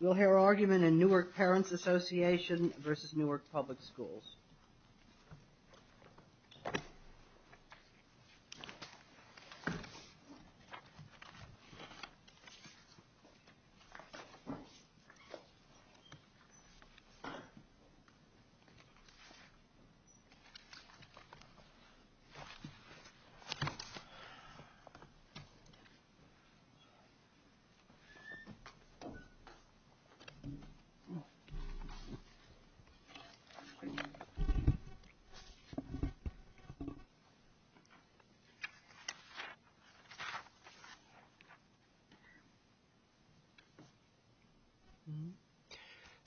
We'll hear argument in Newark Parents Association v. Newark Public Schools.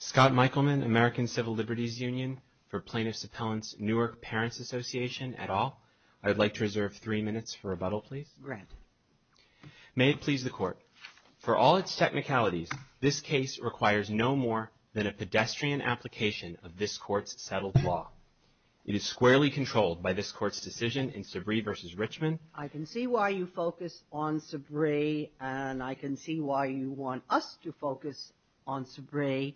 Scott Michaelman, American Civil Liberties Union, for Plaintiff's Appellant's Newark Parents Association, et al. I'd like to reserve three minutes for rebuttal, please. Grant. May it please the Court. For all its technicalities, this case requires no more than a pedestrian application of this Court's settled law. It is squarely controlled by this Court's decision in Sabree v. Richmond. I can see why you focus on Sabree, and I can see why you want us to focus on Sabree.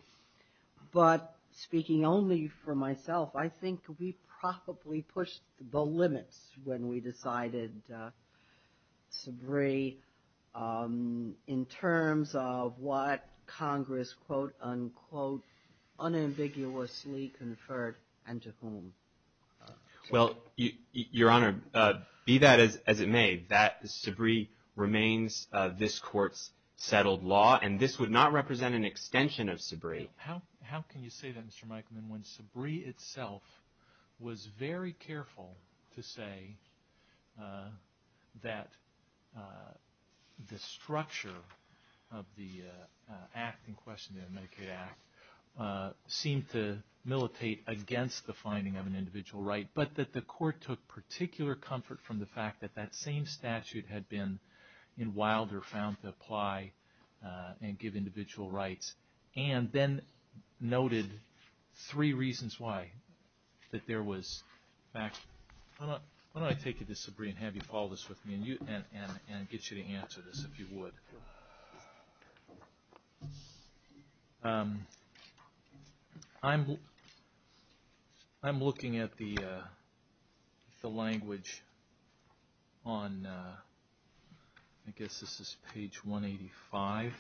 But speaking only for myself, I think we probably pushed the limits when we decided Sabree, in terms of what Congress quote-unquote unambiguously conferred and to whom. Well, Your Honor, be that as it may, Sabree remains this Court's settled law, and this would not represent an extension of Sabree. How can you say that, Mr. Michaelman, when Sabree itself was very careful to say that the structure of the act in question, the Medicaid Act, seemed to militate against the finding of an individual right, but that the Court took particular comfort from the fact that that same statute had been in Wilder, found to apply and give individual rights, and then noted three reasons why. Why don't I take you to Sabree and have you follow this with me, and get you to answer this, if you would. I'm looking at the language on, I guess this is page 185,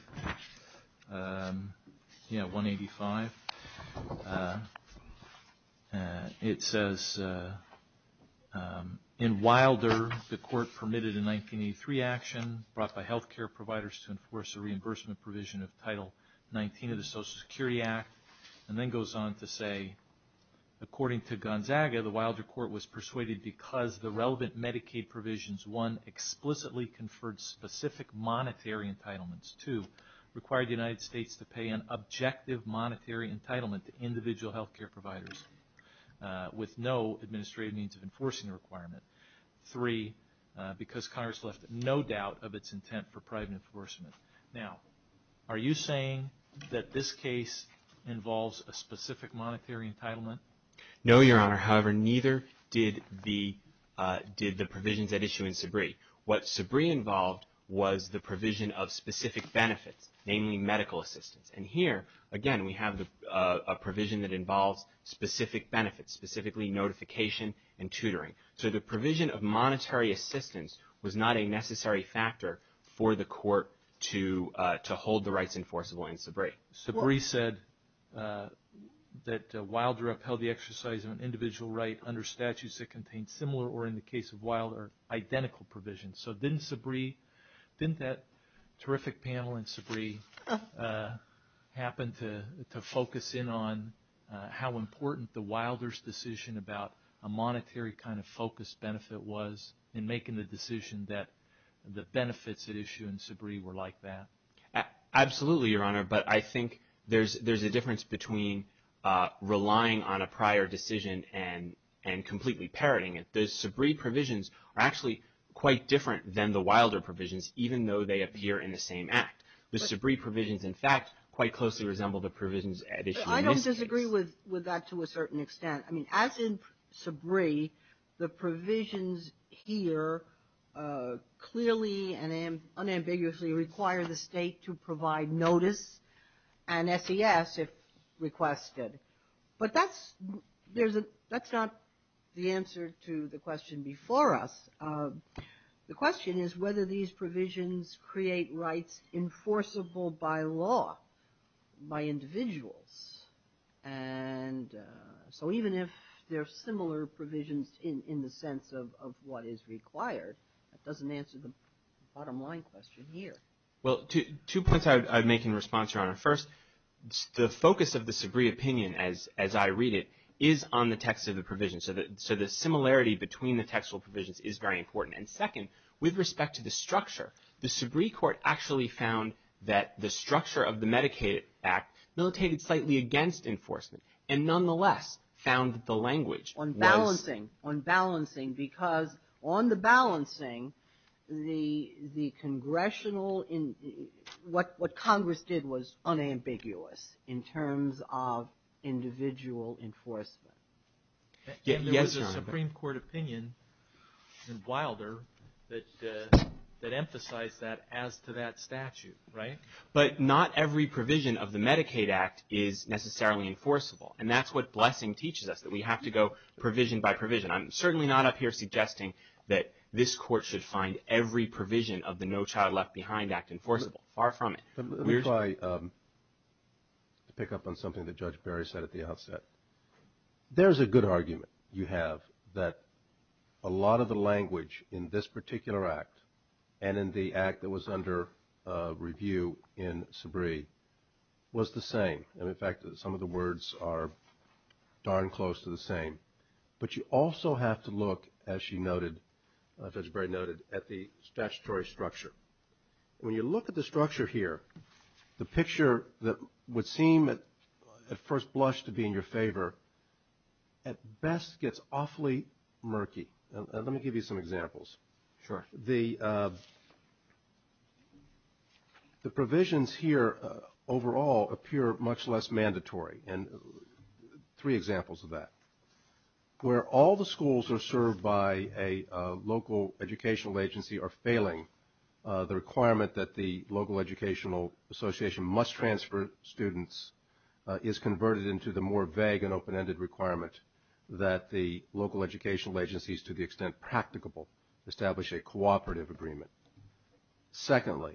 yeah, 185. It says, in Wilder, the Court permitted a 1983 action brought by health care providers to enforce a reimbursement provision of Title 19 of the Social Security Act, and then goes on to say, according to Gonzaga, the Wilder Court was persuaded because the relevant Medicaid provisions, one, explicitly conferred specific monetary entitlements, two, required the United States to pay an objective monetary entitlement to individual health care providers with no administrative means of enforcing the requirement, three, because Congress left no doubt of its intent for private enforcement. Now, are you saying that this case involves a specific monetary entitlement? No, Your Honor. However, neither did the provisions at issue in Sabree. What Sabree involved was the provision of specific benefits, namely medical assistance. And here, again, we have a provision that involves specific benefits, specifically notification and tutoring. So the provision of monetary assistance was not a necessary factor for the Court to hold the rights enforceable in Sabree. But Sabree said that Wilder upheld the exercise of an individual right under statutes that contained similar or, in the case of Wilder, identical provisions. So didn't Sabree, didn't that terrific panel in Sabree happen to focus in on how important the Wilder's decision about a monetary kind of focus benefit was in making the decision that the benefits at issue in Sabree were like that? Absolutely, Your Honor. But I think there's a difference between relying on a prior decision and completely parroting it. The Sabree provisions are actually quite different than the Wilder provisions, even though they appear in the same act. The Sabree provisions, in fact, quite closely resemble the provisions at issue in this case. I don't disagree with that to a certain extent. I mean, as in Sabree, the provisions here clearly and unambiguously require the state to provide notice and SES if requested. But that's not the answer to the question before us. The question is whether these provisions create rights enforceable by law, by individuals. And so even if they're similar provisions in the sense of what is required, that doesn't answer the bottom line question here. Well, two points I'd make in response, Your Honor. First, the focus of the Sabree opinion, as I read it, is on the text of the provisions. So the similarity between the textual provisions is very important. And second, with respect to the structure, the Sabree court actually found that the structure of the Medicaid Act militated slightly against enforcement and nonetheless found that the language was… Unbalancing. Unbalancing. Because on the balancing, what Congress did was unambiguous in terms of individual enforcement. Yes, Your Honor. There's a Supreme Court opinion in Wilder that emphasized that as to that statute, right? But not every provision of the Medicaid Act is necessarily enforceable. And that's what blessing teaches us, that we have to go provision by provision. I'm certainly not up here suggesting that this court should find every provision of the No Child Left Behind Act enforceable. Far from it. Let me try to pick up on something that Judge Barry said at the outset. There's a good argument you have that a lot of the language in this particular act and in the act that was under review in Sabree was the same. And, in fact, some of the words are darn close to the same. But you also have to look, as she noted, as Judge Barry noted, at the statutory structure. When you look at the structure here, the picture that would seem at first blush to be in your favor, at best gets awfully murky. Let me give you some examples. Sure. The provisions here overall appear much less mandatory. And three examples of that. Where all the schools are served by a local educational agency are failing, the requirement that the local educational association must transfer students is converted into the more vague and open-ended requirement that the local educational agencies, to the extent practicable, establish a cooperative agreement. Secondly,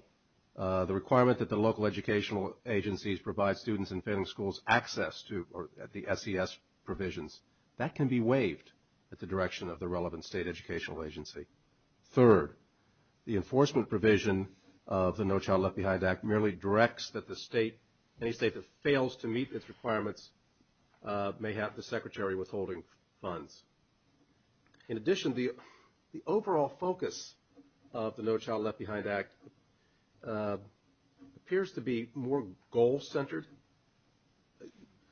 the requirement that the local educational agencies provide students and failing schools access to the SES provisions, that can be waived at the direction of the relevant state educational agency. Third, the enforcement provision of the No Child Left Behind Act merely directs that the state, any state that fails to meet its requirements, may have the secretary withholding funds. In addition, the overall focus of the No Child Left Behind Act appears to be more goal-centered.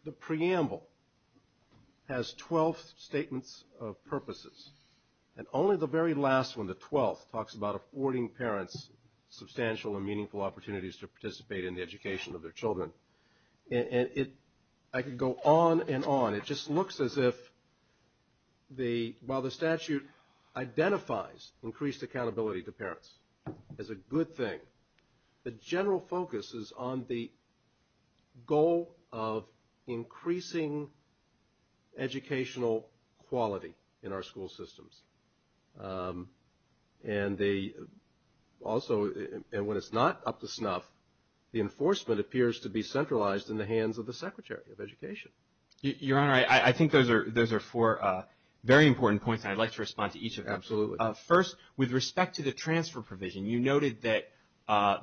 The preamble has 12 statements of purposes. And only the very last one, the 12th, talks about affording parents substantial and meaningful opportunities to participate in the education of their children. And I could go on and on. It just looks as if while the statute identifies increased accountability to parents as a good thing, the general focus is on the goal of increasing educational quality in our school systems. And they also, and when it's not up to snuff, the enforcement appears to be centralized in the hands of the secretary of education. Your Honor, I think those are four very important points, and I'd like to respond to each of them. Absolutely. First, with respect to the transfer provision, you noted that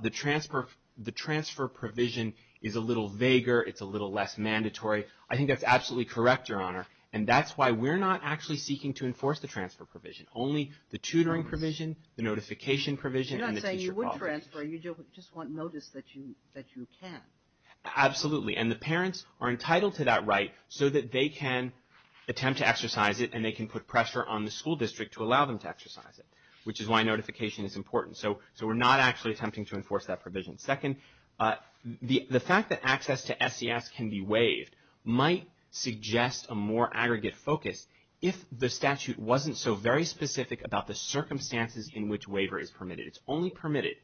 the transfer provision is a little vaguer. It's a little less mandatory. I think that's absolutely correct, Your Honor. And that's why we're not actually seeking to enforce the transfer provision. Only the tutoring provision, the notification provision, and the teacher policy. You're not saying you would transfer. You just want notice that you can. Absolutely. And the parents are entitled to that right so that they can attempt to exercise it and they can put pressure on the school district to allow them to exercise it, which is why notification is important. So we're not actually attempting to enforce that provision. Second, the fact that access to SES can be waived might suggest a more aggregate focus if the statute wasn't so very specific about the circumstances in which waiver is permitted. It's only permitted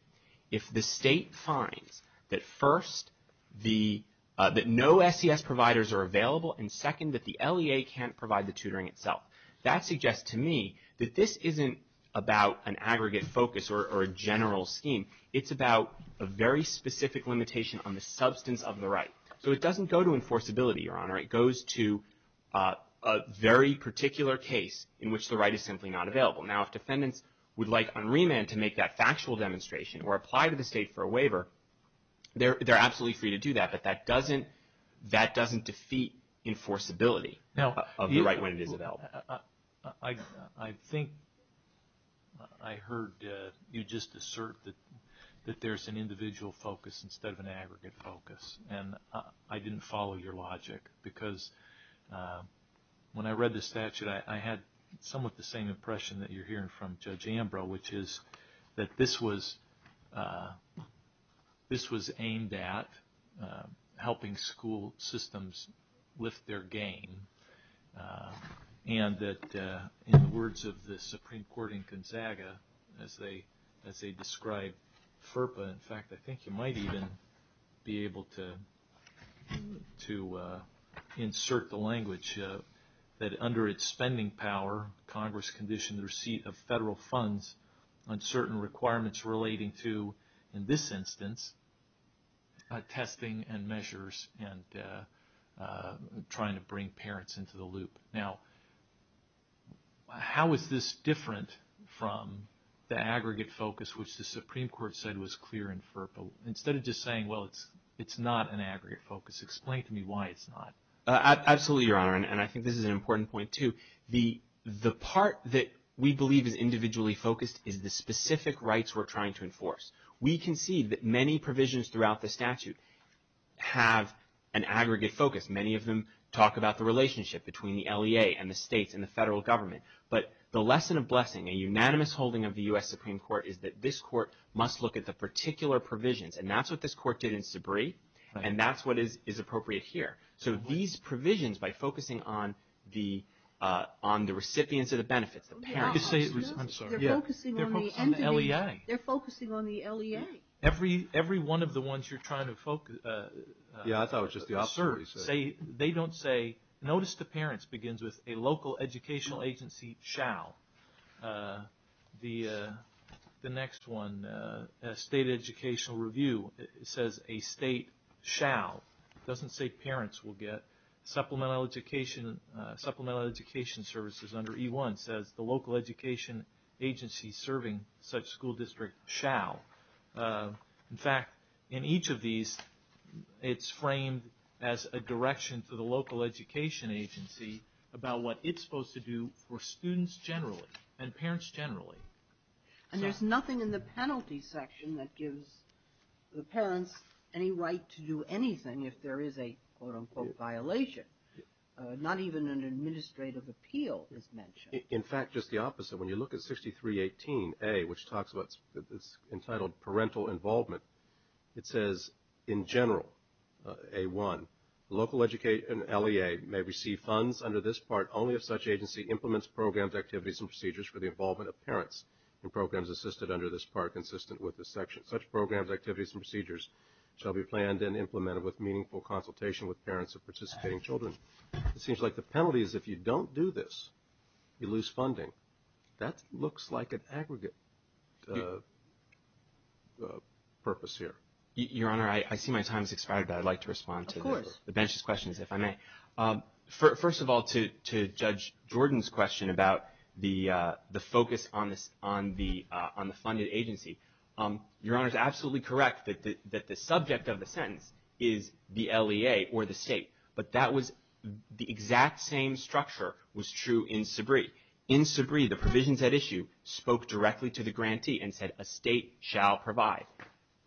if the state finds that, first, that no SES providers are available, and, second, that the LEA can't provide the tutoring itself. That suggests to me that this isn't about an aggregate focus or a general scheme. It's about a very specific limitation on the substance of the right. So it doesn't go to enforceability, Your Honor. It goes to a very particular case in which the right is simply not available. Now, if defendants would like on remand to make that factual demonstration or apply to the state for a waiver, they're absolutely free to do that, but that doesn't defeat enforceability of the right when it is available. I think I heard you just assert that there's an individual focus instead of an aggregate focus, and I didn't follow your logic because when I read the statute, I had somewhat the same impression that you're hearing from Judge Ambrose, which is that this was aimed at helping school systems lift their gain, and that in the words of the Supreme Court in Gonzaga, as they describe FERPA, in fact, I think you might even be able to insert the language, that under its spending power, Congress conditioned the receipt of federal funds on certain requirements relating to, in this instance, testing and measures and trying to bring parents into the loop. Now, how is this different from the aggregate focus, which the Supreme Court said was clear in FERPA? Instead of just saying, well, it's not an aggregate focus, explain to me why it's not. Absolutely, Your Honor, and I think this is an important point, too. The part that we believe is individually focused is the specific rights we're trying to enforce. We can see that many provisions throughout the statute have an aggregate focus. Many of them talk about the relationship between the LEA and the states and the federal government, but the lesson of blessing, a unanimous holding of the U.S. Supreme Court, is that this court must look at the particular provisions, and that's what this court did in Sabree, and that's what is appropriate here. So these provisions, by focusing on the recipients of the benefits, the parents. They're focusing on the LEA. They're focusing on the LEA. Every one of the ones you're trying to serve, they don't say, notice the parents begins with a local educational agency shall. The next one, state educational review, says a state shall. It doesn't say parents will get. Supplemental education services under E1 says the local education agency serving such school district shall. In fact, in each of these, it's framed as a direction to the local education agency about what it's supposed to do for students generally and parents generally. And there's nothing in the penalty section that gives the parents any right to do anything if there is a, quote, unquote, violation. Not even an administrative appeal is mentioned. In fact, just the opposite. When you look at 6318A, which talks about this entitled parental involvement, it says in general, A1, local LEA may receive funds under this part only if such agency implements programs, activities, and procedures for the involvement of parents in programs assisted under this part consistent with this section. Such programs, activities, and procedures shall be planned and implemented with meaningful consultation with parents of participating children. It seems like the penalty is if you don't do this, you lose funding. That looks like an aggregate purpose here. Your Honor, I see my time has expired, but I'd like to respond to the bench's questions, if I may. First of all, to Judge Jordan's question about the focus on the funded agency, Your Honor is absolutely correct that the subject of the sentence is the LEA or the state. But that was the exact same structure was true in Sabree. In Sabree, the provisions at issue spoke directly to the grantee and said a state shall provide.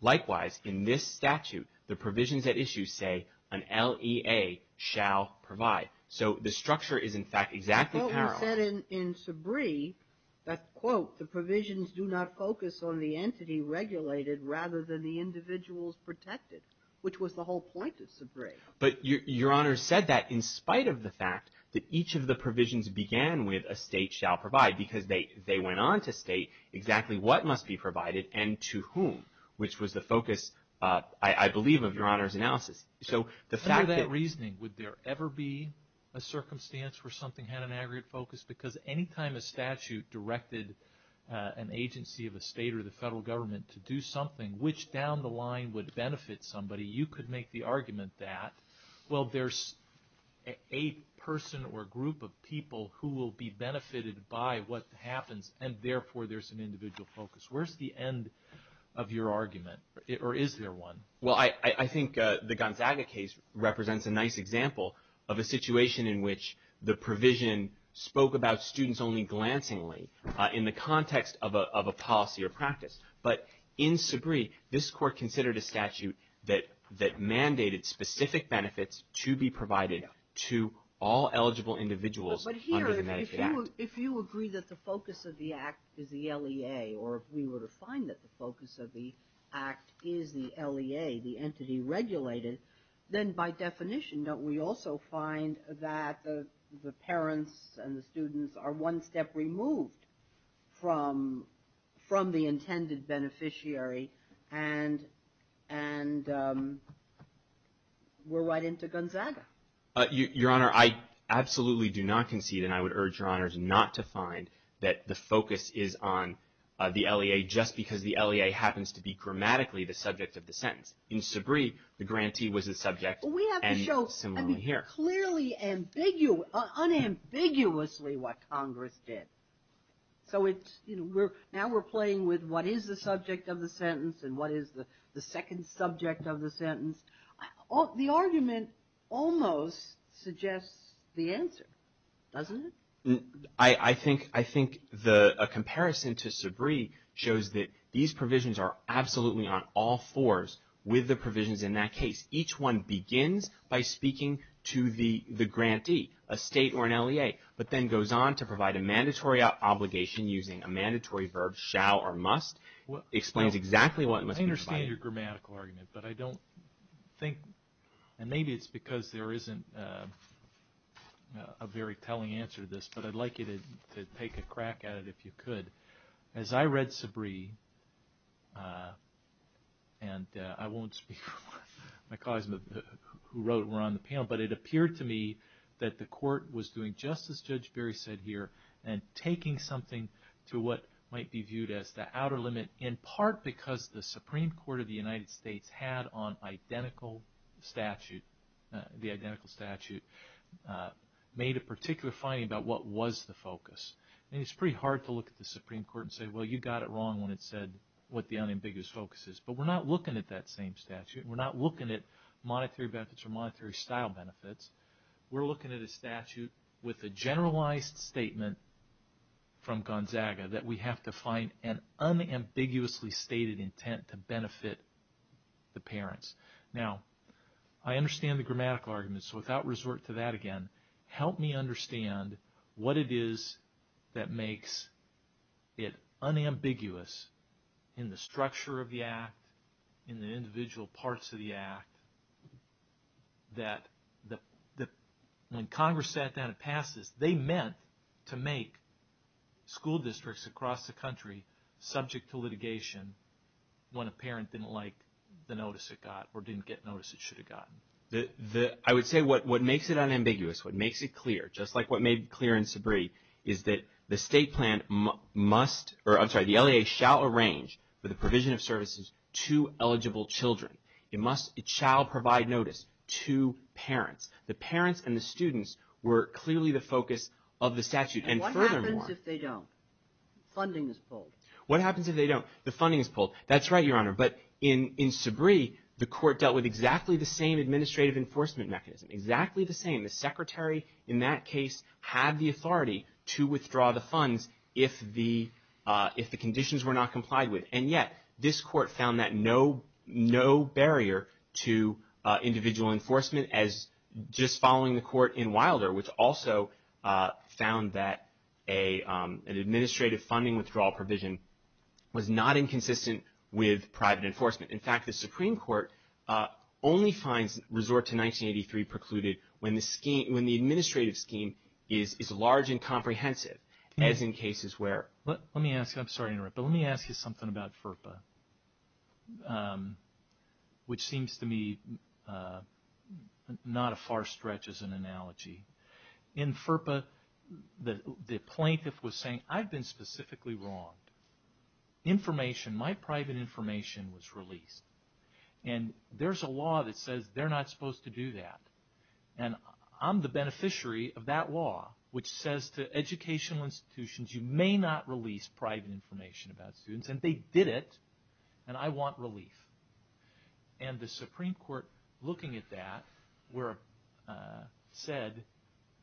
Likewise, in this statute, the provisions at issue say an LEA shall provide. So the structure is, in fact, exactly parallel. But Horton said in Sabree that, quote, the provisions do not focus on the entity regulated rather than the individuals protected, which was the whole point of Sabree. But Your Honor said that in spite of the fact that each of the provisions began with a state shall provide because they went on to state exactly what must be provided and to whom, which was the focus, I believe, of Your Honor's analysis. Under that reasoning, would there ever be a circumstance where something had an aggregate focus? Because any time a statute directed an agency of a state or the federal government to do something, which down the line would benefit somebody, you could make the argument that, well, there's a person or group of people who will be benefited by what happens, and therefore there's an individual focus. Where's the end of your argument, or is there one? Well, I think the Gonzaga case represents a nice example of a situation in which the provision spoke about students only glancingly in the context of a policy or practice. But in Sabree, this Court considered a statute that mandated specific benefits to be provided to all eligible individuals under the Medicaid Act. But here, if you agree that the focus of the Act is the LEA, or if we were to find that the focus of the Act is the LEA, the entity regulated, then by definition don't we also find that the parents and the students are one step removed from the intended beneficiary, and we're right into Gonzaga? Your Honor, I absolutely do not concede, and I would urge Your Honors not to find that the focus is on the LEA just because the LEA happens to be grammatically the subject of the sentence. In Sabree, the grantee was the subject, and similarly here. That's clearly unambiguously what Congress did. So now we're playing with what is the subject of the sentence and what is the second subject of the sentence. The argument almost suggests the answer, doesn't it? I think a comparison to Sabree shows that these provisions are absolutely on all fours with the provisions in that case. Each one begins by speaking to the grantee, a state or an LEA, but then goes on to provide a mandatory obligation using a mandatory verb, shall or must. It explains exactly what must be provided. I understand your grammatical argument, but I don't think, and maybe it's because there isn't a very telling answer to this, but I'd like you to take a crack at it if you could. As I read Sabree, and I won't speak for my colleagues who wrote and were on the panel, but it appeared to me that the court was doing just as Judge Berry said here and taking something to what might be viewed as the outer limit, in part because the Supreme Court of the United States had on identical statute, the identical statute, made a particular finding about what was the focus. It's pretty hard to look at the Supreme Court and say, well, you got it wrong when it said what the unambiguous focus is. But we're not looking at that same statute. We're not looking at monetary benefits or monetary style benefits. We're looking at a statute with a generalized statement from Gonzaga that we have to find an unambiguously stated intent to benefit the parents. Now, I understand the grammatical argument, so without resort to that again, help me understand what it is that makes it unambiguous in the structure of the Act, in the individual parts of the Act, that when Congress sat down and passed this, they meant to make school districts across the country subject to litigation when a parent didn't like the notice it got or didn't get notice it should have gotten. I would say what makes it unambiguous, what makes it clear, just like what made clear in Sabree, is that the state plan must, or I'm sorry, the LEA shall arrange for the provision of services to eligible children. It must, it shall provide notice to parents. The parents and the students were clearly the focus of the statute. And furthermore. What happens if they don't? Funding is pulled. What happens if they don't? The funding is pulled. That's right, Your Honor. But in Sabree, the court dealt with exactly the same administrative enforcement mechanism. Exactly the same. The secretary in that case had the authority to withdraw the funds if the conditions were not complied with. And yet, this court found that no barrier to individual enforcement as just following the court in Wilder, which also found that an administrative funding withdrawal provision was not inconsistent with private enforcement. In fact, the Supreme Court only finds resort to 1983 precluded when the administrative scheme is large and comprehensive, as in cases where. Let me ask you. I'm sorry to interrupt. In FERPA, the plaintiff was saying, I've been specifically wronged. Information, my private information was released. And there's a law that says they're not supposed to do that. And I'm the beneficiary of that law, which says to educational institutions, you may not release private information about students. And they did it. And I want relief. And the Supreme Court, looking at that, said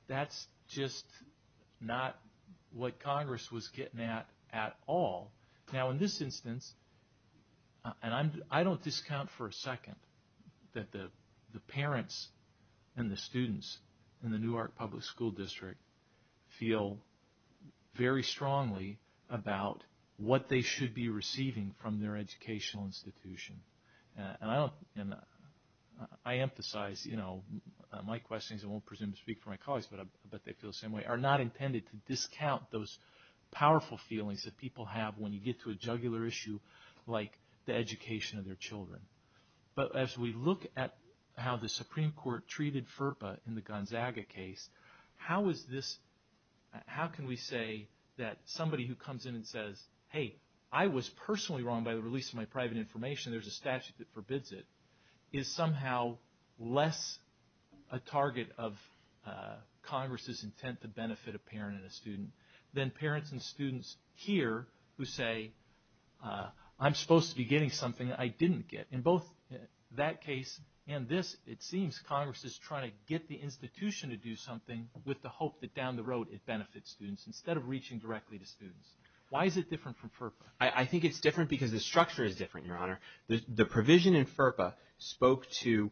that's just not what Congress was getting at at all. Now, in this instance, and I don't discount for a second that the parents and the students in the Newark Public School District feel very strongly about what they should be receiving from their educational institution. And I emphasize, you know, my questions, I won't presume to speak for my colleagues, but I bet they feel the same way, are not intended to discount those powerful feelings that people have when you get to a jugular issue like the education of their children. But as we look at how the Supreme Court treated FERPA in the Gonzaga case, how can we say that somebody who comes in and says, hey, I was personally wrong by the release of my private information, there's a statute that forbids it, is somehow less a target of Congress's intent to benefit a parent and a student than parents and students here who say, I'm supposed to be getting something I didn't get. In both that case and this, it seems Congress is trying to get the institution to do something with the hope that down the road it benefits students instead of reaching directly to students. Why is it different from FERPA? I think it's different because the structure is different, Your Honor. The provision in FERPA spoke to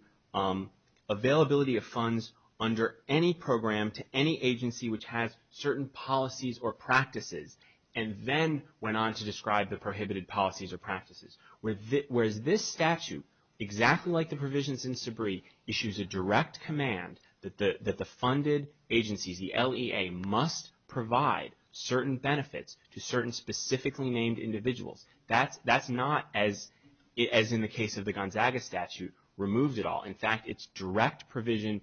availability of funds under any program to any agency which has certain policies or practices and then went on to describe the prohibited policies or practices. Whereas this statute, exactly like the provisions in Sabree, issues a direct command that the funded agencies, the LEA, must provide certain benefits to certain specifically named individuals. That's not, as in the case of the Gonzaga statute, removed at all. In fact, it's direct provision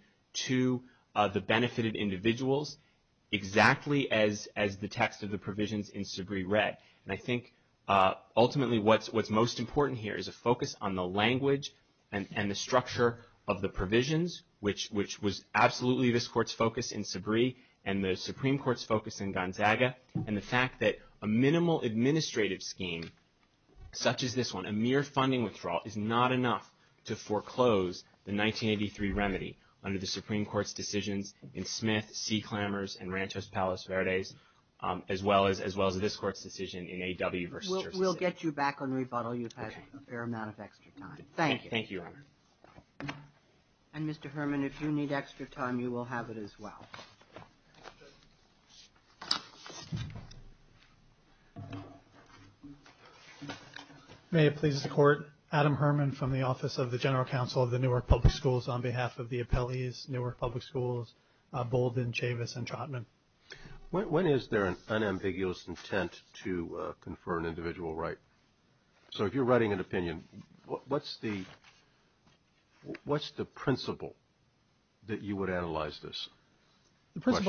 to the benefited individuals exactly as the text of the provisions in Sabree read. And I think ultimately what's most important here is a focus on the language and the structure of the provisions, which was absolutely this Court's focus in Sabree and the Supreme Court's focus in Gonzaga, and the fact that a minimal administrative scheme such as this one, a mere funding withdrawal, is not enough to foreclose the 1983 remedy under the Supreme Court's decisions in Smith, C. Clammers, and Ranchos Palos Verdes, as well as this Court's decision in A.W. versus Jersey City. We'll get you back on rebuttal. You've had a fair amount of extra time. Thank you. Thank you, Your Honor. And, Mr. Herman, if you need extra time, you will have it as well. Thank you. May it please the Court, Adam Herman from the Office of the General Counsel of the Newark Public Schools on behalf of the appellees, Newark Public Schools, Bolden, Chavis, and Trotman. When is there an unambiguous intent to confer an individual right? So if you're writing an opinion, what's the principle that you would analyze this? I'm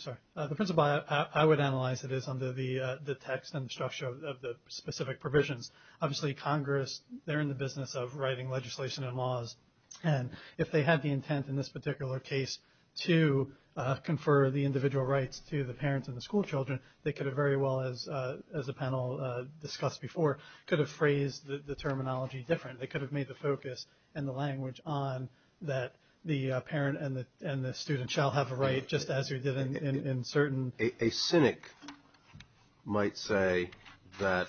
sorry. The principle I would analyze it is under the text and structure of the specific provisions. Obviously, Congress, they're in the business of writing legislation and laws, and if they had the intent in this particular case to confer the individual rights to the parents and the schoolchildren, they could have very well, as the panel discussed before, could have phrased the terminology different. They could have made the focus and the language on that the parent and the student shall have a right, just as you did in certain. A cynic might say that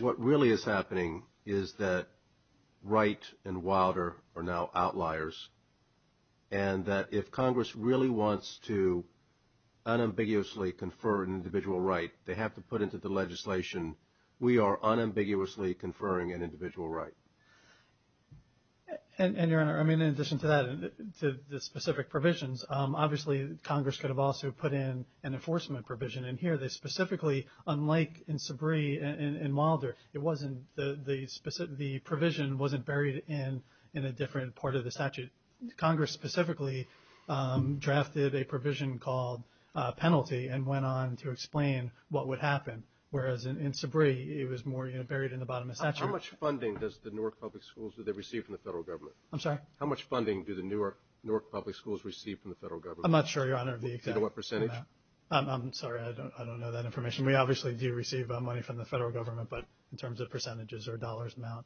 what really is happening is that Wright and Wilder are now outliers, and that if Congress really wants to unambiguously confer an individual right, they have to put into the legislation, we are unambiguously conferring an individual right. And, Your Honor, I mean, in addition to that, to the specific provisions, obviously Congress could have also put in an enforcement provision in here. They specifically, unlike in Sabree and Wilder, the provision wasn't buried in a different part of the statute. Congress specifically drafted a provision called penalty and went on to explain what would happen, whereas in Sabree it was more buried in the bottom of the statute. How much funding does the Newark Public Schools receive from the federal government? I'm sorry? How much funding do the Newark Public Schools receive from the federal government? I'm not sure, Your Honor. Do you know what percentage? I'm sorry. I don't know that information. We obviously do receive money from the federal government, but in terms of percentages or dollars amount.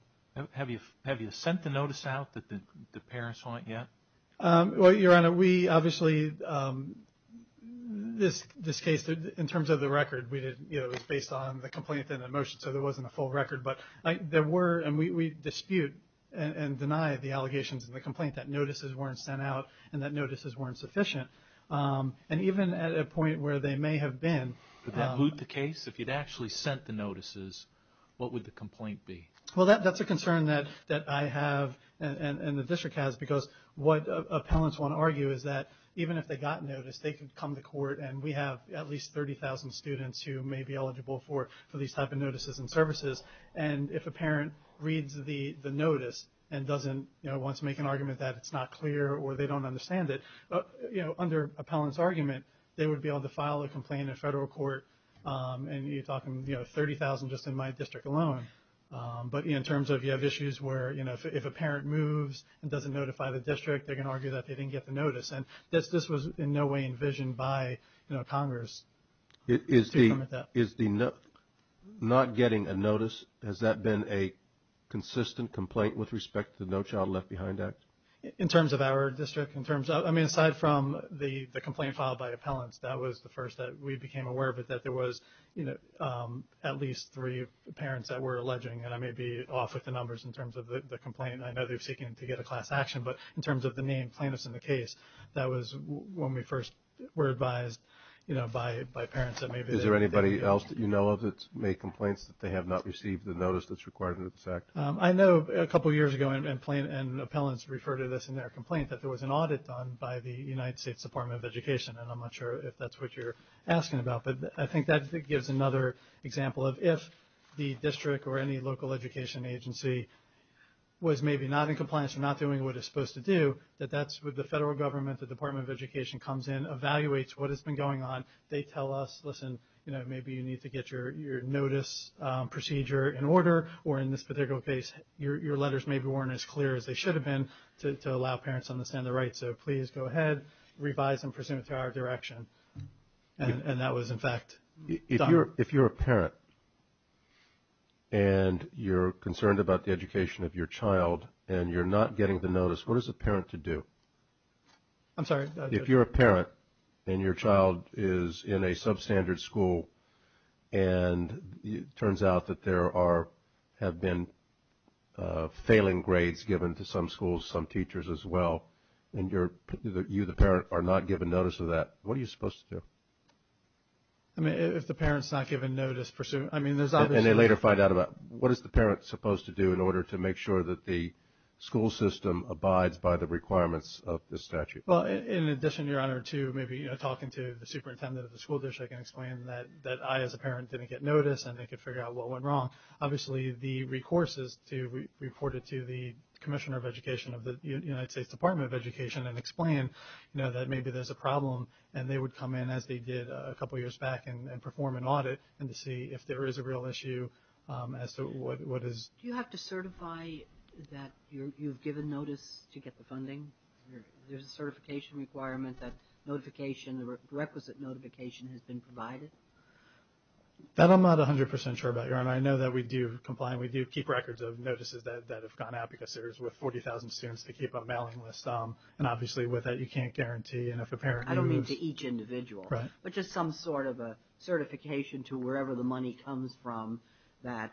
Have you sent the notice out that the parents want yet? Well, Your Honor, we obviously, this case, in terms of the record, it was based on the complaint and the motion, so there wasn't a full record. But there were, and we dispute and deny the allegations in the complaint that notices weren't sent out and that notices weren't sufficient. And even at a point where they may have been. Would that boot the case? If you'd actually sent the notices, what would the complaint be? Well, that's a concern that I have and the district has, because what appellants want to argue is that even if they got notice, they could come to court and we have at least 30,000 students who may be eligible for these type of notices and services. And if a parent reads the notice and doesn't, you know, wants to make an argument that it's not clear or they don't understand it, under appellant's argument, they would be able to file a complaint in federal court and you're talking, you know, 30,000 just in my district alone. But in terms of you have issues where, you know, if a parent moves and doesn't notify the district, they're going to argue that they didn't get the notice. And this was in no way envisioned by Congress. Is the not getting a notice, has that been a consistent complaint with respect to the No Child Left Behind Act? In terms of our district, in terms of, I mean, aside from the complaint filed by appellants, that was the first that we became aware of it, that there was, you know, at least three parents that were alleging. And I may be off with the numbers in terms of the complaint. I know they're seeking to get a class action. But in terms of the name plaintiffs in the case, that was when we first were advised, you know, by parents. Is there anybody else that you know of that's made complaints that they have not received the notice that's required under this act? I know a couple years ago, and appellants refer to this in their complaint, that there was an audit done by the United States Department of Education. And I'm not sure if that's what you're asking about. But I think that gives another example of if the district or any local education agency was maybe not in compliance or not doing what it's supposed to do, that that's what the federal government, the Department of Education comes in, evaluates what has been going on. They tell us, listen, you know, maybe you need to get your notice procedure in order, or in this particular case, your letters maybe weren't as clear as they should have been to allow parents to understand the rights. So please go ahead, revise and presume it to our direction. And that was, in fact, done. If you're a parent and you're concerned about the education of your child and you're not getting the notice, what is a parent to do? I'm sorry? If you're a parent and your child is in a substandard school and it turns out that there have been failing grades given to some schools, some teachers as well, and you, the parent, are not given notice of that, what are you supposed to do? I mean, if the parent's not given notice, I mean, there's obviously – And they later find out about it. What is the parent supposed to do in order to make sure that the school system abides by the requirements of this statute? Well, in addition, Your Honor, to maybe talking to the superintendent of the school district and explaining that I as a parent didn't get notice and they could figure out what went wrong, obviously the recourse is to report it to the commissioner of education of the United States Department of Education and explain that maybe there's a problem. And they would come in, as they did a couple years back, and perform an audit and to see if there is a real issue as to what is – Do you have to certify that you've given notice to get the funding? There's a certification requirement that notification, requisite notification has been provided? That I'm not 100% sure about, Your Honor. I know that we do comply and we do keep records of notices that have gone out because there's – with 40,000 students, they keep a mailing list. And obviously with that, you can't guarantee. And if a parent moves – I don't mean to each individual. Right. But just some sort of a certification to wherever the money comes from that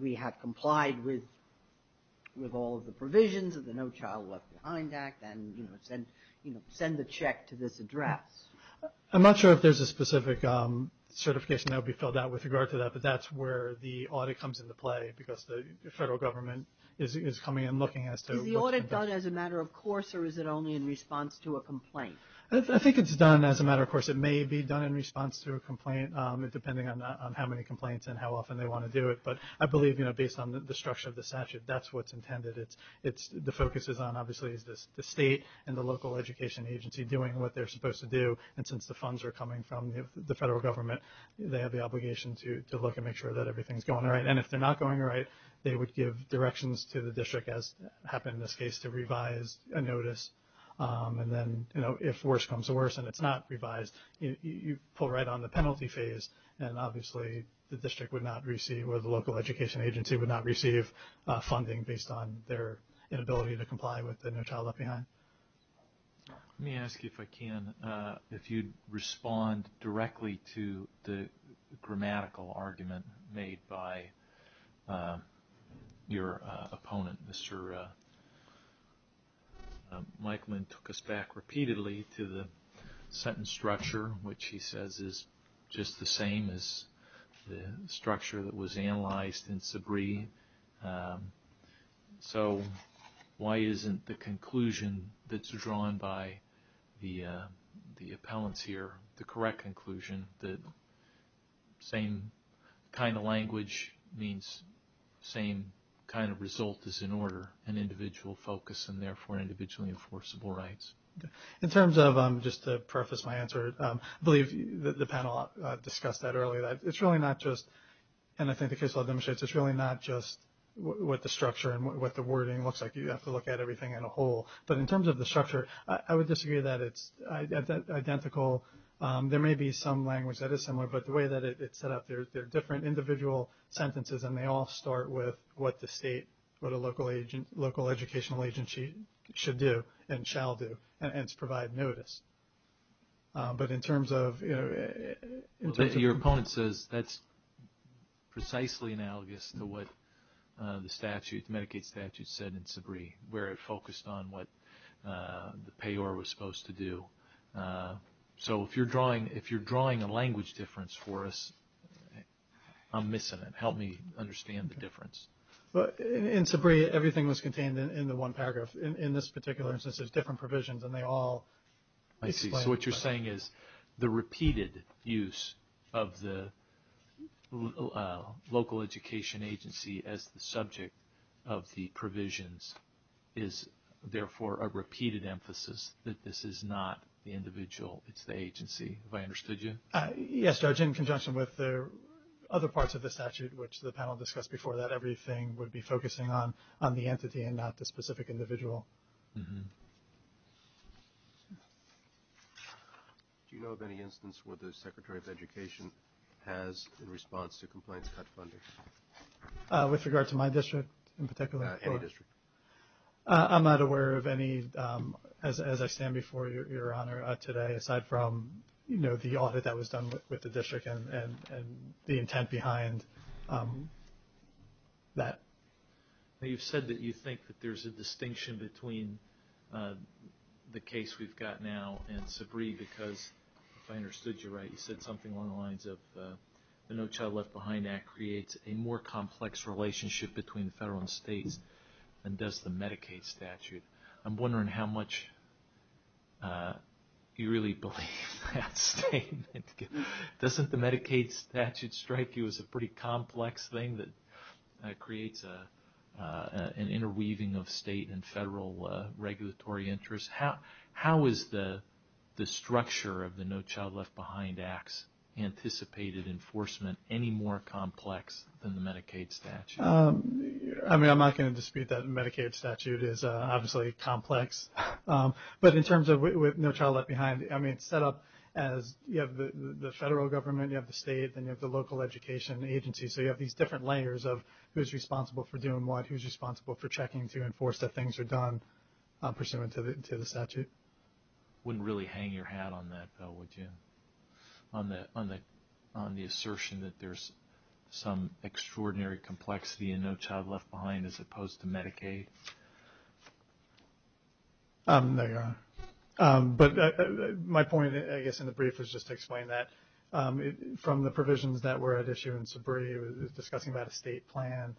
we have complied with all of the provisions of the No Child Left Behind Act and send the check to this address. I'm not sure if there's a specific certification that would be filled out with regard to that, but that's where the audit comes into play because the federal government is coming and looking as to – Is the audit done as a matter of course or is it only in response to a complaint? I think it's done as a matter of course. It may be done in response to a complaint, depending on how many complaints and how often they want to do it. But I believe, you know, based on the structure of the statute, that's what's intended. The focus is on obviously the state and the local education agency doing what they're supposed to do. And since the funds are coming from the federal government, they have the obligation to look and make sure that everything's going right. And if they're not going right, they would give directions to the district, as happened in this case, to revise a notice. And then, you know, if worse comes to worse and it's not revised, you pull right on the penalty phase and obviously the district would not receive or the local education agency would not receive funding based on their inability to comply with the No Child Left Behind. Let me ask you, if I can, if you'd respond directly to the grammatical argument made by your opponent, Mr. Mike Lynn took us back repeatedly to the sentence structure, which he says is just the same as the structure that was analyzed in Sabree. So why isn't the conclusion that's drawn by the appellants here the correct conclusion, the same kind of language means same kind of result is in order, an individual focus and therefore individually enforceable rights? In terms of, just to preface my answer, I believe the panel discussed that earlier. It's really not just, and I think the case law demonstrates, it's really not just what the structure and what the wording looks like. You have to look at everything in a whole. But in terms of the structure, I would disagree that it's identical. There may be some language that is similar, but the way that it's set up, there are different individual sentences and they all start with what the state, what a local educational agency should do and shall do, and it's provide notice. But in terms of- Your opponent says that's precisely analogous to what the Medicaid statute said in Sabree, where it focused on what the payor was supposed to do. So if you're drawing a language difference for us, I'm missing it. Help me understand the difference. In Sabree, everything was contained in the one paragraph. In this particular instance, there's different provisions and they all explain- I see. So what you're saying is the repeated use of the local education agency as the subject of the provisions is, therefore, a repeated emphasis that this is not the individual, it's the agency. Have I understood you? Yes, Judge, in conjunction with other parts of the statute, which the panel discussed before that, everything would be focusing on the entity and not the specific individual. Do you know of any instance where the Secretary of Education has, in response to complaints, cut funding? With regard to my district in particular? Any district. I'm not aware of any, as I stand before Your Honor today, aside from the audit that was done with the district and the intent behind that. You've said that you think that there's a distinction between the case we've got now and Sabree because, if I understood you right, you said something along the lines of the No Child Left Behind Act creates a more complex relationship between the federal and states than does the Medicaid statute. I'm wondering how much you really believe that statement. Doesn't the Medicaid statute strike you as a pretty complex thing that creates an interweaving of state and federal regulatory interests? How is the structure of the No Child Left Behind Act's anticipated enforcement any more complex than the Medicaid statute? I'm not going to dispute that the Medicaid statute is obviously complex. But in terms of No Child Left Behind, it's set up as you have the federal government, you have the state, and you have the local education agency. So you have these different layers of who's responsible for doing what, who's responsible for checking to enforce that things are done pursuant to the statute. Wouldn't really hang your hat on that, though, would you, on the assertion that there's some extraordinary complexity in No Child Left Behind as opposed to Medicaid? No, Your Honor. But my point, I guess, in the brief was just to explain that. From the provisions that were at issue in Sabree, it was discussing about a state plan,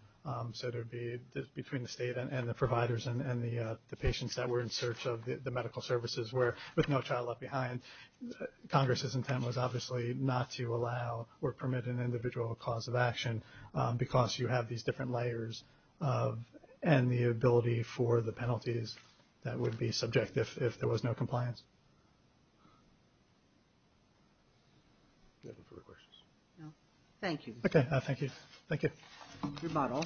so it would be between the state and the providers and the patients that were in search of the medical services, where with No Child Left Behind, Congress's intent was obviously not to allow or permit an individual cause of action because you have these different layers and the ability for the penalties that would be subjective if there was no compliance. Thank you. Okay, thank you. Thank you. You're not all.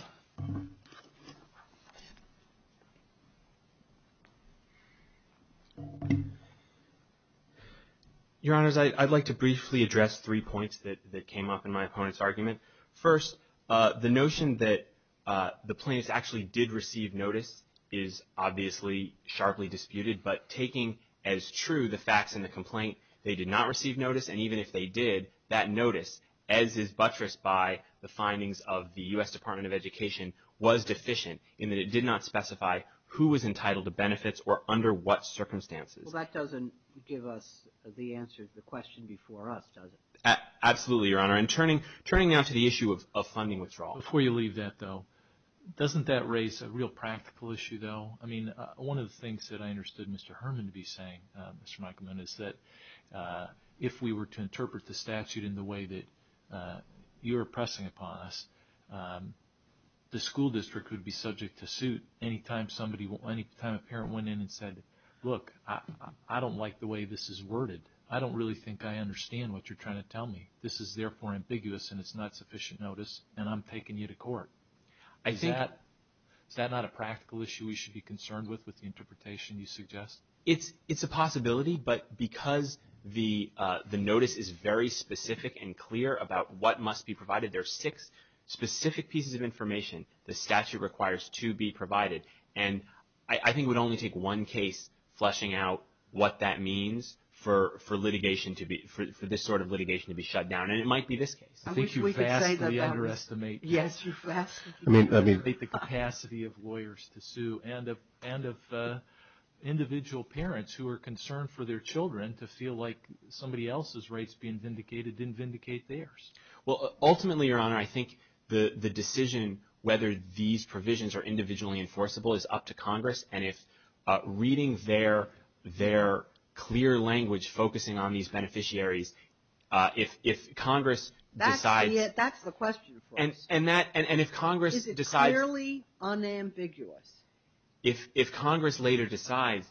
Your Honors, I'd like to briefly address three points that came up in my opponent's argument. First, the notion that the plaintiffs actually did receive notice is obviously sharply disputed, but taking as true the facts in the complaint, they did not receive notice, and even if they did, that notice, as is buttressed by the findings of the U.S. Department of Education, was deficient in that it did not specify who was entitled to benefits or under what circumstances. Well, that doesn't give us the answer to the question before us, does it? Absolutely, Your Honor. And turning now to the issue of funding withdrawal. Before you leave that, though, doesn't that raise a real practical issue, though? I mean, one of the things that I understood Mr. Herman to be saying, Mr. Meikleman, is that if we were to interpret the statute in the way that you are pressing upon us, the school district would be subject to suit any time a parent went in and said, look, I don't like the way this is worded. I don't really think I understand what you're trying to tell me. This is therefore ambiguous, and it's not sufficient notice, and I'm taking you to court. Is that not a practical issue we should be concerned with with the interpretation you suggest? It's a possibility, but because the notice is very specific and clear about what must be provided, there are six specific pieces of information the statute requires to be provided. And I think it would only take one case fleshing out what that means for litigation to be – for this sort of litigation to be shut down. And it might be this case. I think you vastly underestimate the capacity of lawyers to sue and of individual parents who are concerned for their children to feel like somebody else's rights being vindicated didn't vindicate theirs. Well, ultimately, Your Honor, I think the decision whether these provisions are individually enforceable is up to Congress, and if reading their clear language focusing on these beneficiaries, if Congress decides – That's the question for us. And if Congress decides – If Congress later decides,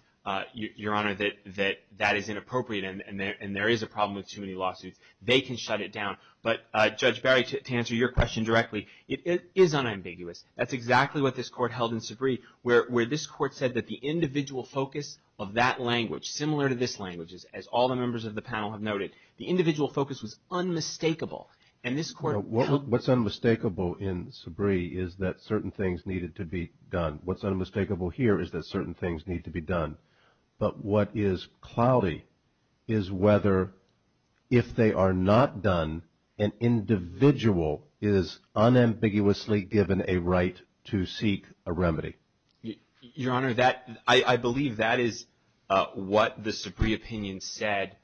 Your Honor, that that is inappropriate and there is a problem with too many lawsuits, they can shut it down. But, Judge Barry, to answer your question directly, it is unambiguous. That's exactly what this Court held in Sabree, where this Court said that the individual focus of that language, similar to this language, as all the members of the panel have noted, the individual focus was unmistakable. And this Court – What's unmistakable in Sabree is that certain things needed to be done. What's unmistakable here is that certain things need to be done. But what is cloudy is whether, if they are not done, an individual is unambiguously given a right to seek a remedy. Your Honor, I believe that is what the Sabree opinion said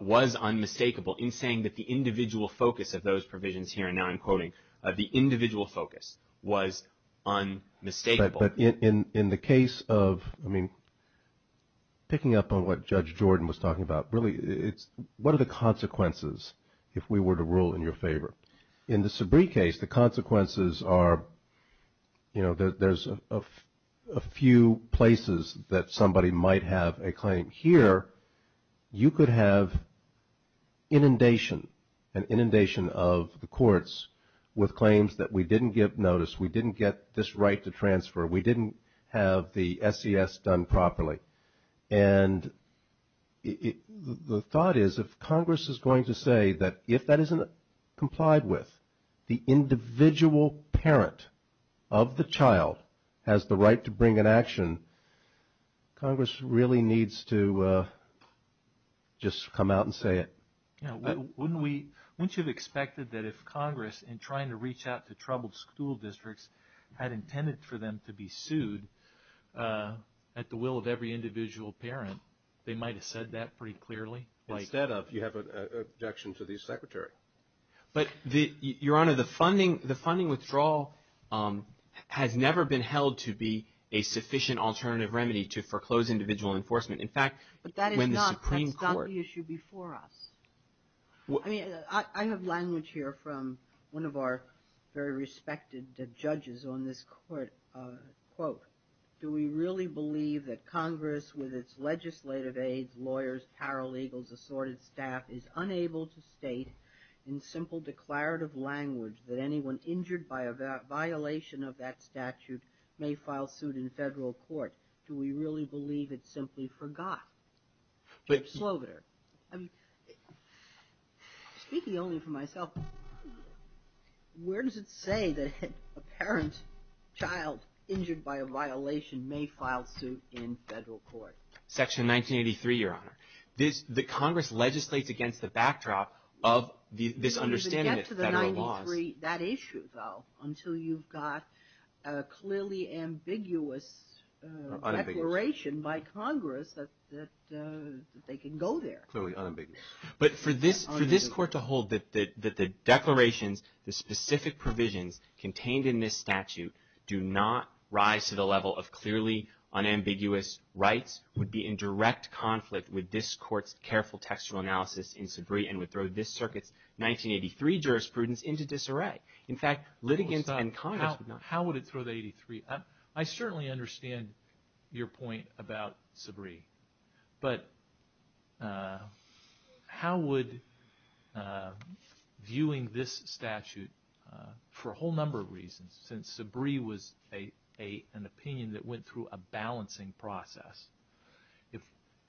was unmistakable in saying that the individual focus of those provisions here, and now I'm quoting, the individual focus was unmistakable. But in the case of, I mean, picking up on what Judge Jordan was talking about, really, what are the consequences if we were to rule in your favor? In the Sabree case, the consequences are, you know, there's a few places that somebody might have a claim. Here, you could have inundation, an inundation of the courts with claims that we didn't give notice, we didn't get this right to transfer, we didn't have the SES done properly. And the thought is if Congress is going to say that if that isn't complied with, the individual parent of the child has the right to bring an action, Congress really needs to just come out and say it. Wouldn't you have expected that if Congress, in trying to reach out to troubled school districts, had intended for them to be sued at the will of every individual parent, they might have said that pretty clearly? Instead of, you have an objection to the Secretary. But, Your Honor, the funding withdrawal has never been held to be a sufficient alternative remedy to foreclose individual enforcement. In fact, when the Supreme Court. But that is not the issue before us. I mean, I have language here from one of our very respected judges on this court. Quote, do we really believe that Congress, with its legislative aides, lawyers, paralegals, assorted staff, is unable to state in simple declarative language that anyone injured by a violation of that statute may file suit in federal court? Or do we really believe it's simply forgot? I'm speaking only for myself. Where does it say that a parent, child injured by a violation may file suit in federal court? Section 1983, Your Honor. The Congress legislates against the backdrop of this understanding of federal laws. That issue, though, until you've got a clearly ambiguous declaration by Congress that they can go there. Clearly unambiguous. But for this court to hold that the declarations, the specific provisions contained in this statute do not rise to the level of clearly unambiguous rights would be in direct conflict with this court's careful textual analysis in Sabree and would throw this circuit's 1983 jurisprudence into disarray. In fact, litigants and Congress would not. How would it throw the 83? I certainly understand your point about Sabree. But how would viewing this statute, for a whole number of reasons, since Sabree was an opinion that went through a balancing process,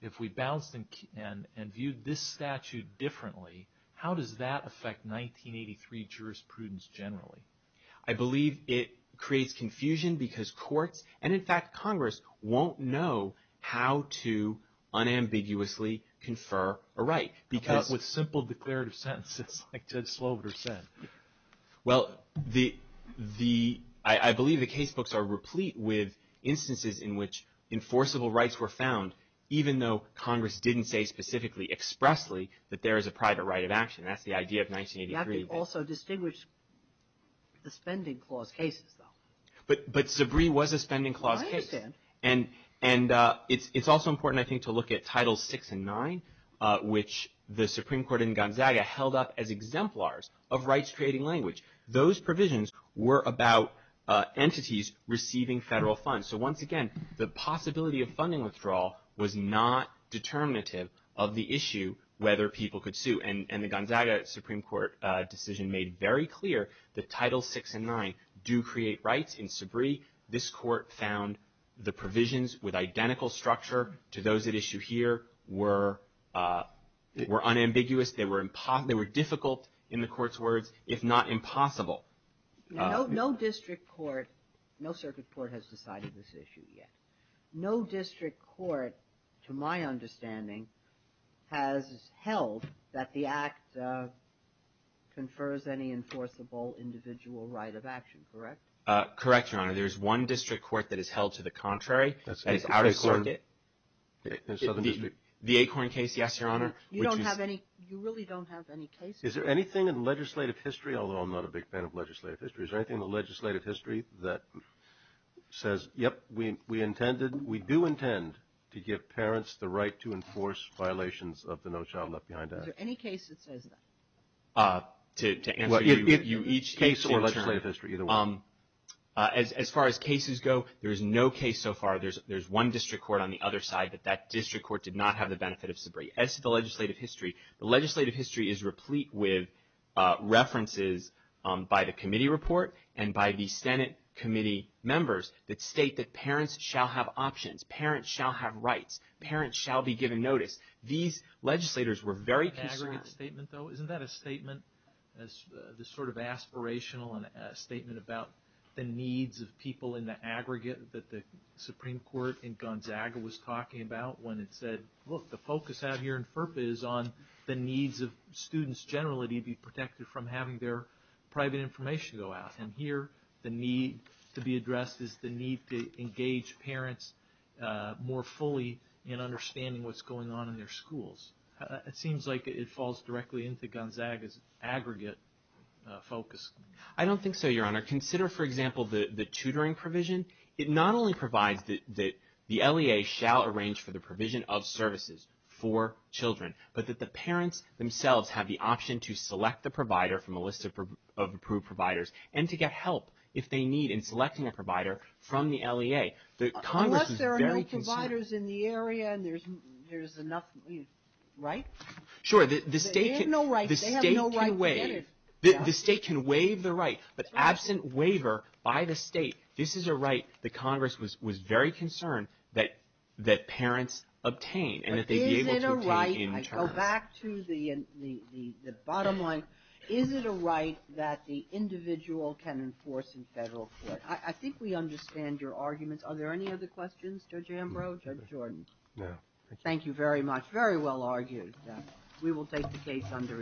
if we balanced and viewed this statute differently, how does that affect 1983 jurisprudence generally? I believe it creates confusion because courts and, in fact, Congress won't know how to unambiguously confer a right. With simple declarative sentences like Ted Slover said. Well, I believe the case books are replete with instances in which enforceable rights were found, even though Congress didn't say specifically expressly that there is a private right of action. That's the idea of 1983. You have to also distinguish the spending clause cases, though. But Sabree was a spending clause case. I understand. And it's also important, I think, to look at Titles VI and IX, which the Supreme Court in Gonzaga held up as exemplars of rights-creating language. Those provisions were about entities receiving federal funds. So, once again, the possibility of funding withdrawal was not determinative of the issue, whether people could sue. And the Gonzaga Supreme Court decision made very clear that Titles VI and IX do create rights in Sabree. This Court found the provisions with identical structure to those at issue here were unambiguous. They were difficult, in the Court's words, if not impossible. No district court, no circuit court has decided this issue yet. No district court, to my understanding, has held that the Act confers any enforceable individual right of action, correct? Correct, Your Honor. There's one district court that has held to the contrary. That's the Southern District. The Acorn case, yes, Your Honor. You don't have any, you really don't have any cases. Is there anything in legislative history, although I'm not a big fan of legislative history, is there anything in the legislative history that says, yep, we intended, we do intend to give parents the right to enforce violations of the No Child Left Behind Act? Is there any case that says that? To answer your question. As far as cases go, there is no case so far. There's one district court on the other side, but that district court did not have the benefit of Sabree. As to the legislative history, the legislative history is replete with references by the committee report and by the Senate committee members that state that parents shall have options, parents shall have rights, parents shall be given notice. These legislators were very concerned. Isn't that a statement, this sort of aspirational statement about the needs of people in the aggregate that the Supreme Court in Gonzaga was talking about when it said, look, the focus out here in FERPA is on the needs of students generally to be protected from having their private information go out. And here the need to be addressed is the need to engage parents more fully in understanding what's going on in their schools. It seems like it falls directly into Gonzaga's aggregate focus. I don't think so, Your Honor. Consider, for example, the tutoring provision. It not only provides that the LEA shall arrange for the provision of services for children, but that the parents themselves have the option to select the provider from a list of approved providers and to get help if they need in selecting a provider from the LEA. Unless there are no providers in the area and there's enough, right? Sure. They have no right. They have no right. The state can waive the right. But absent waiver by the state, this is a right the Congress was very concerned that parents obtain and that they be able to obtain in turn. But is it a right, I go back to the bottom line, is it a right that the individual can enforce in federal court? I think we understand your arguments. Are there any other questions, Judge Ambrose or Judge Jordan? No. Thank you very much. Very well argued. We will take the case under advisement.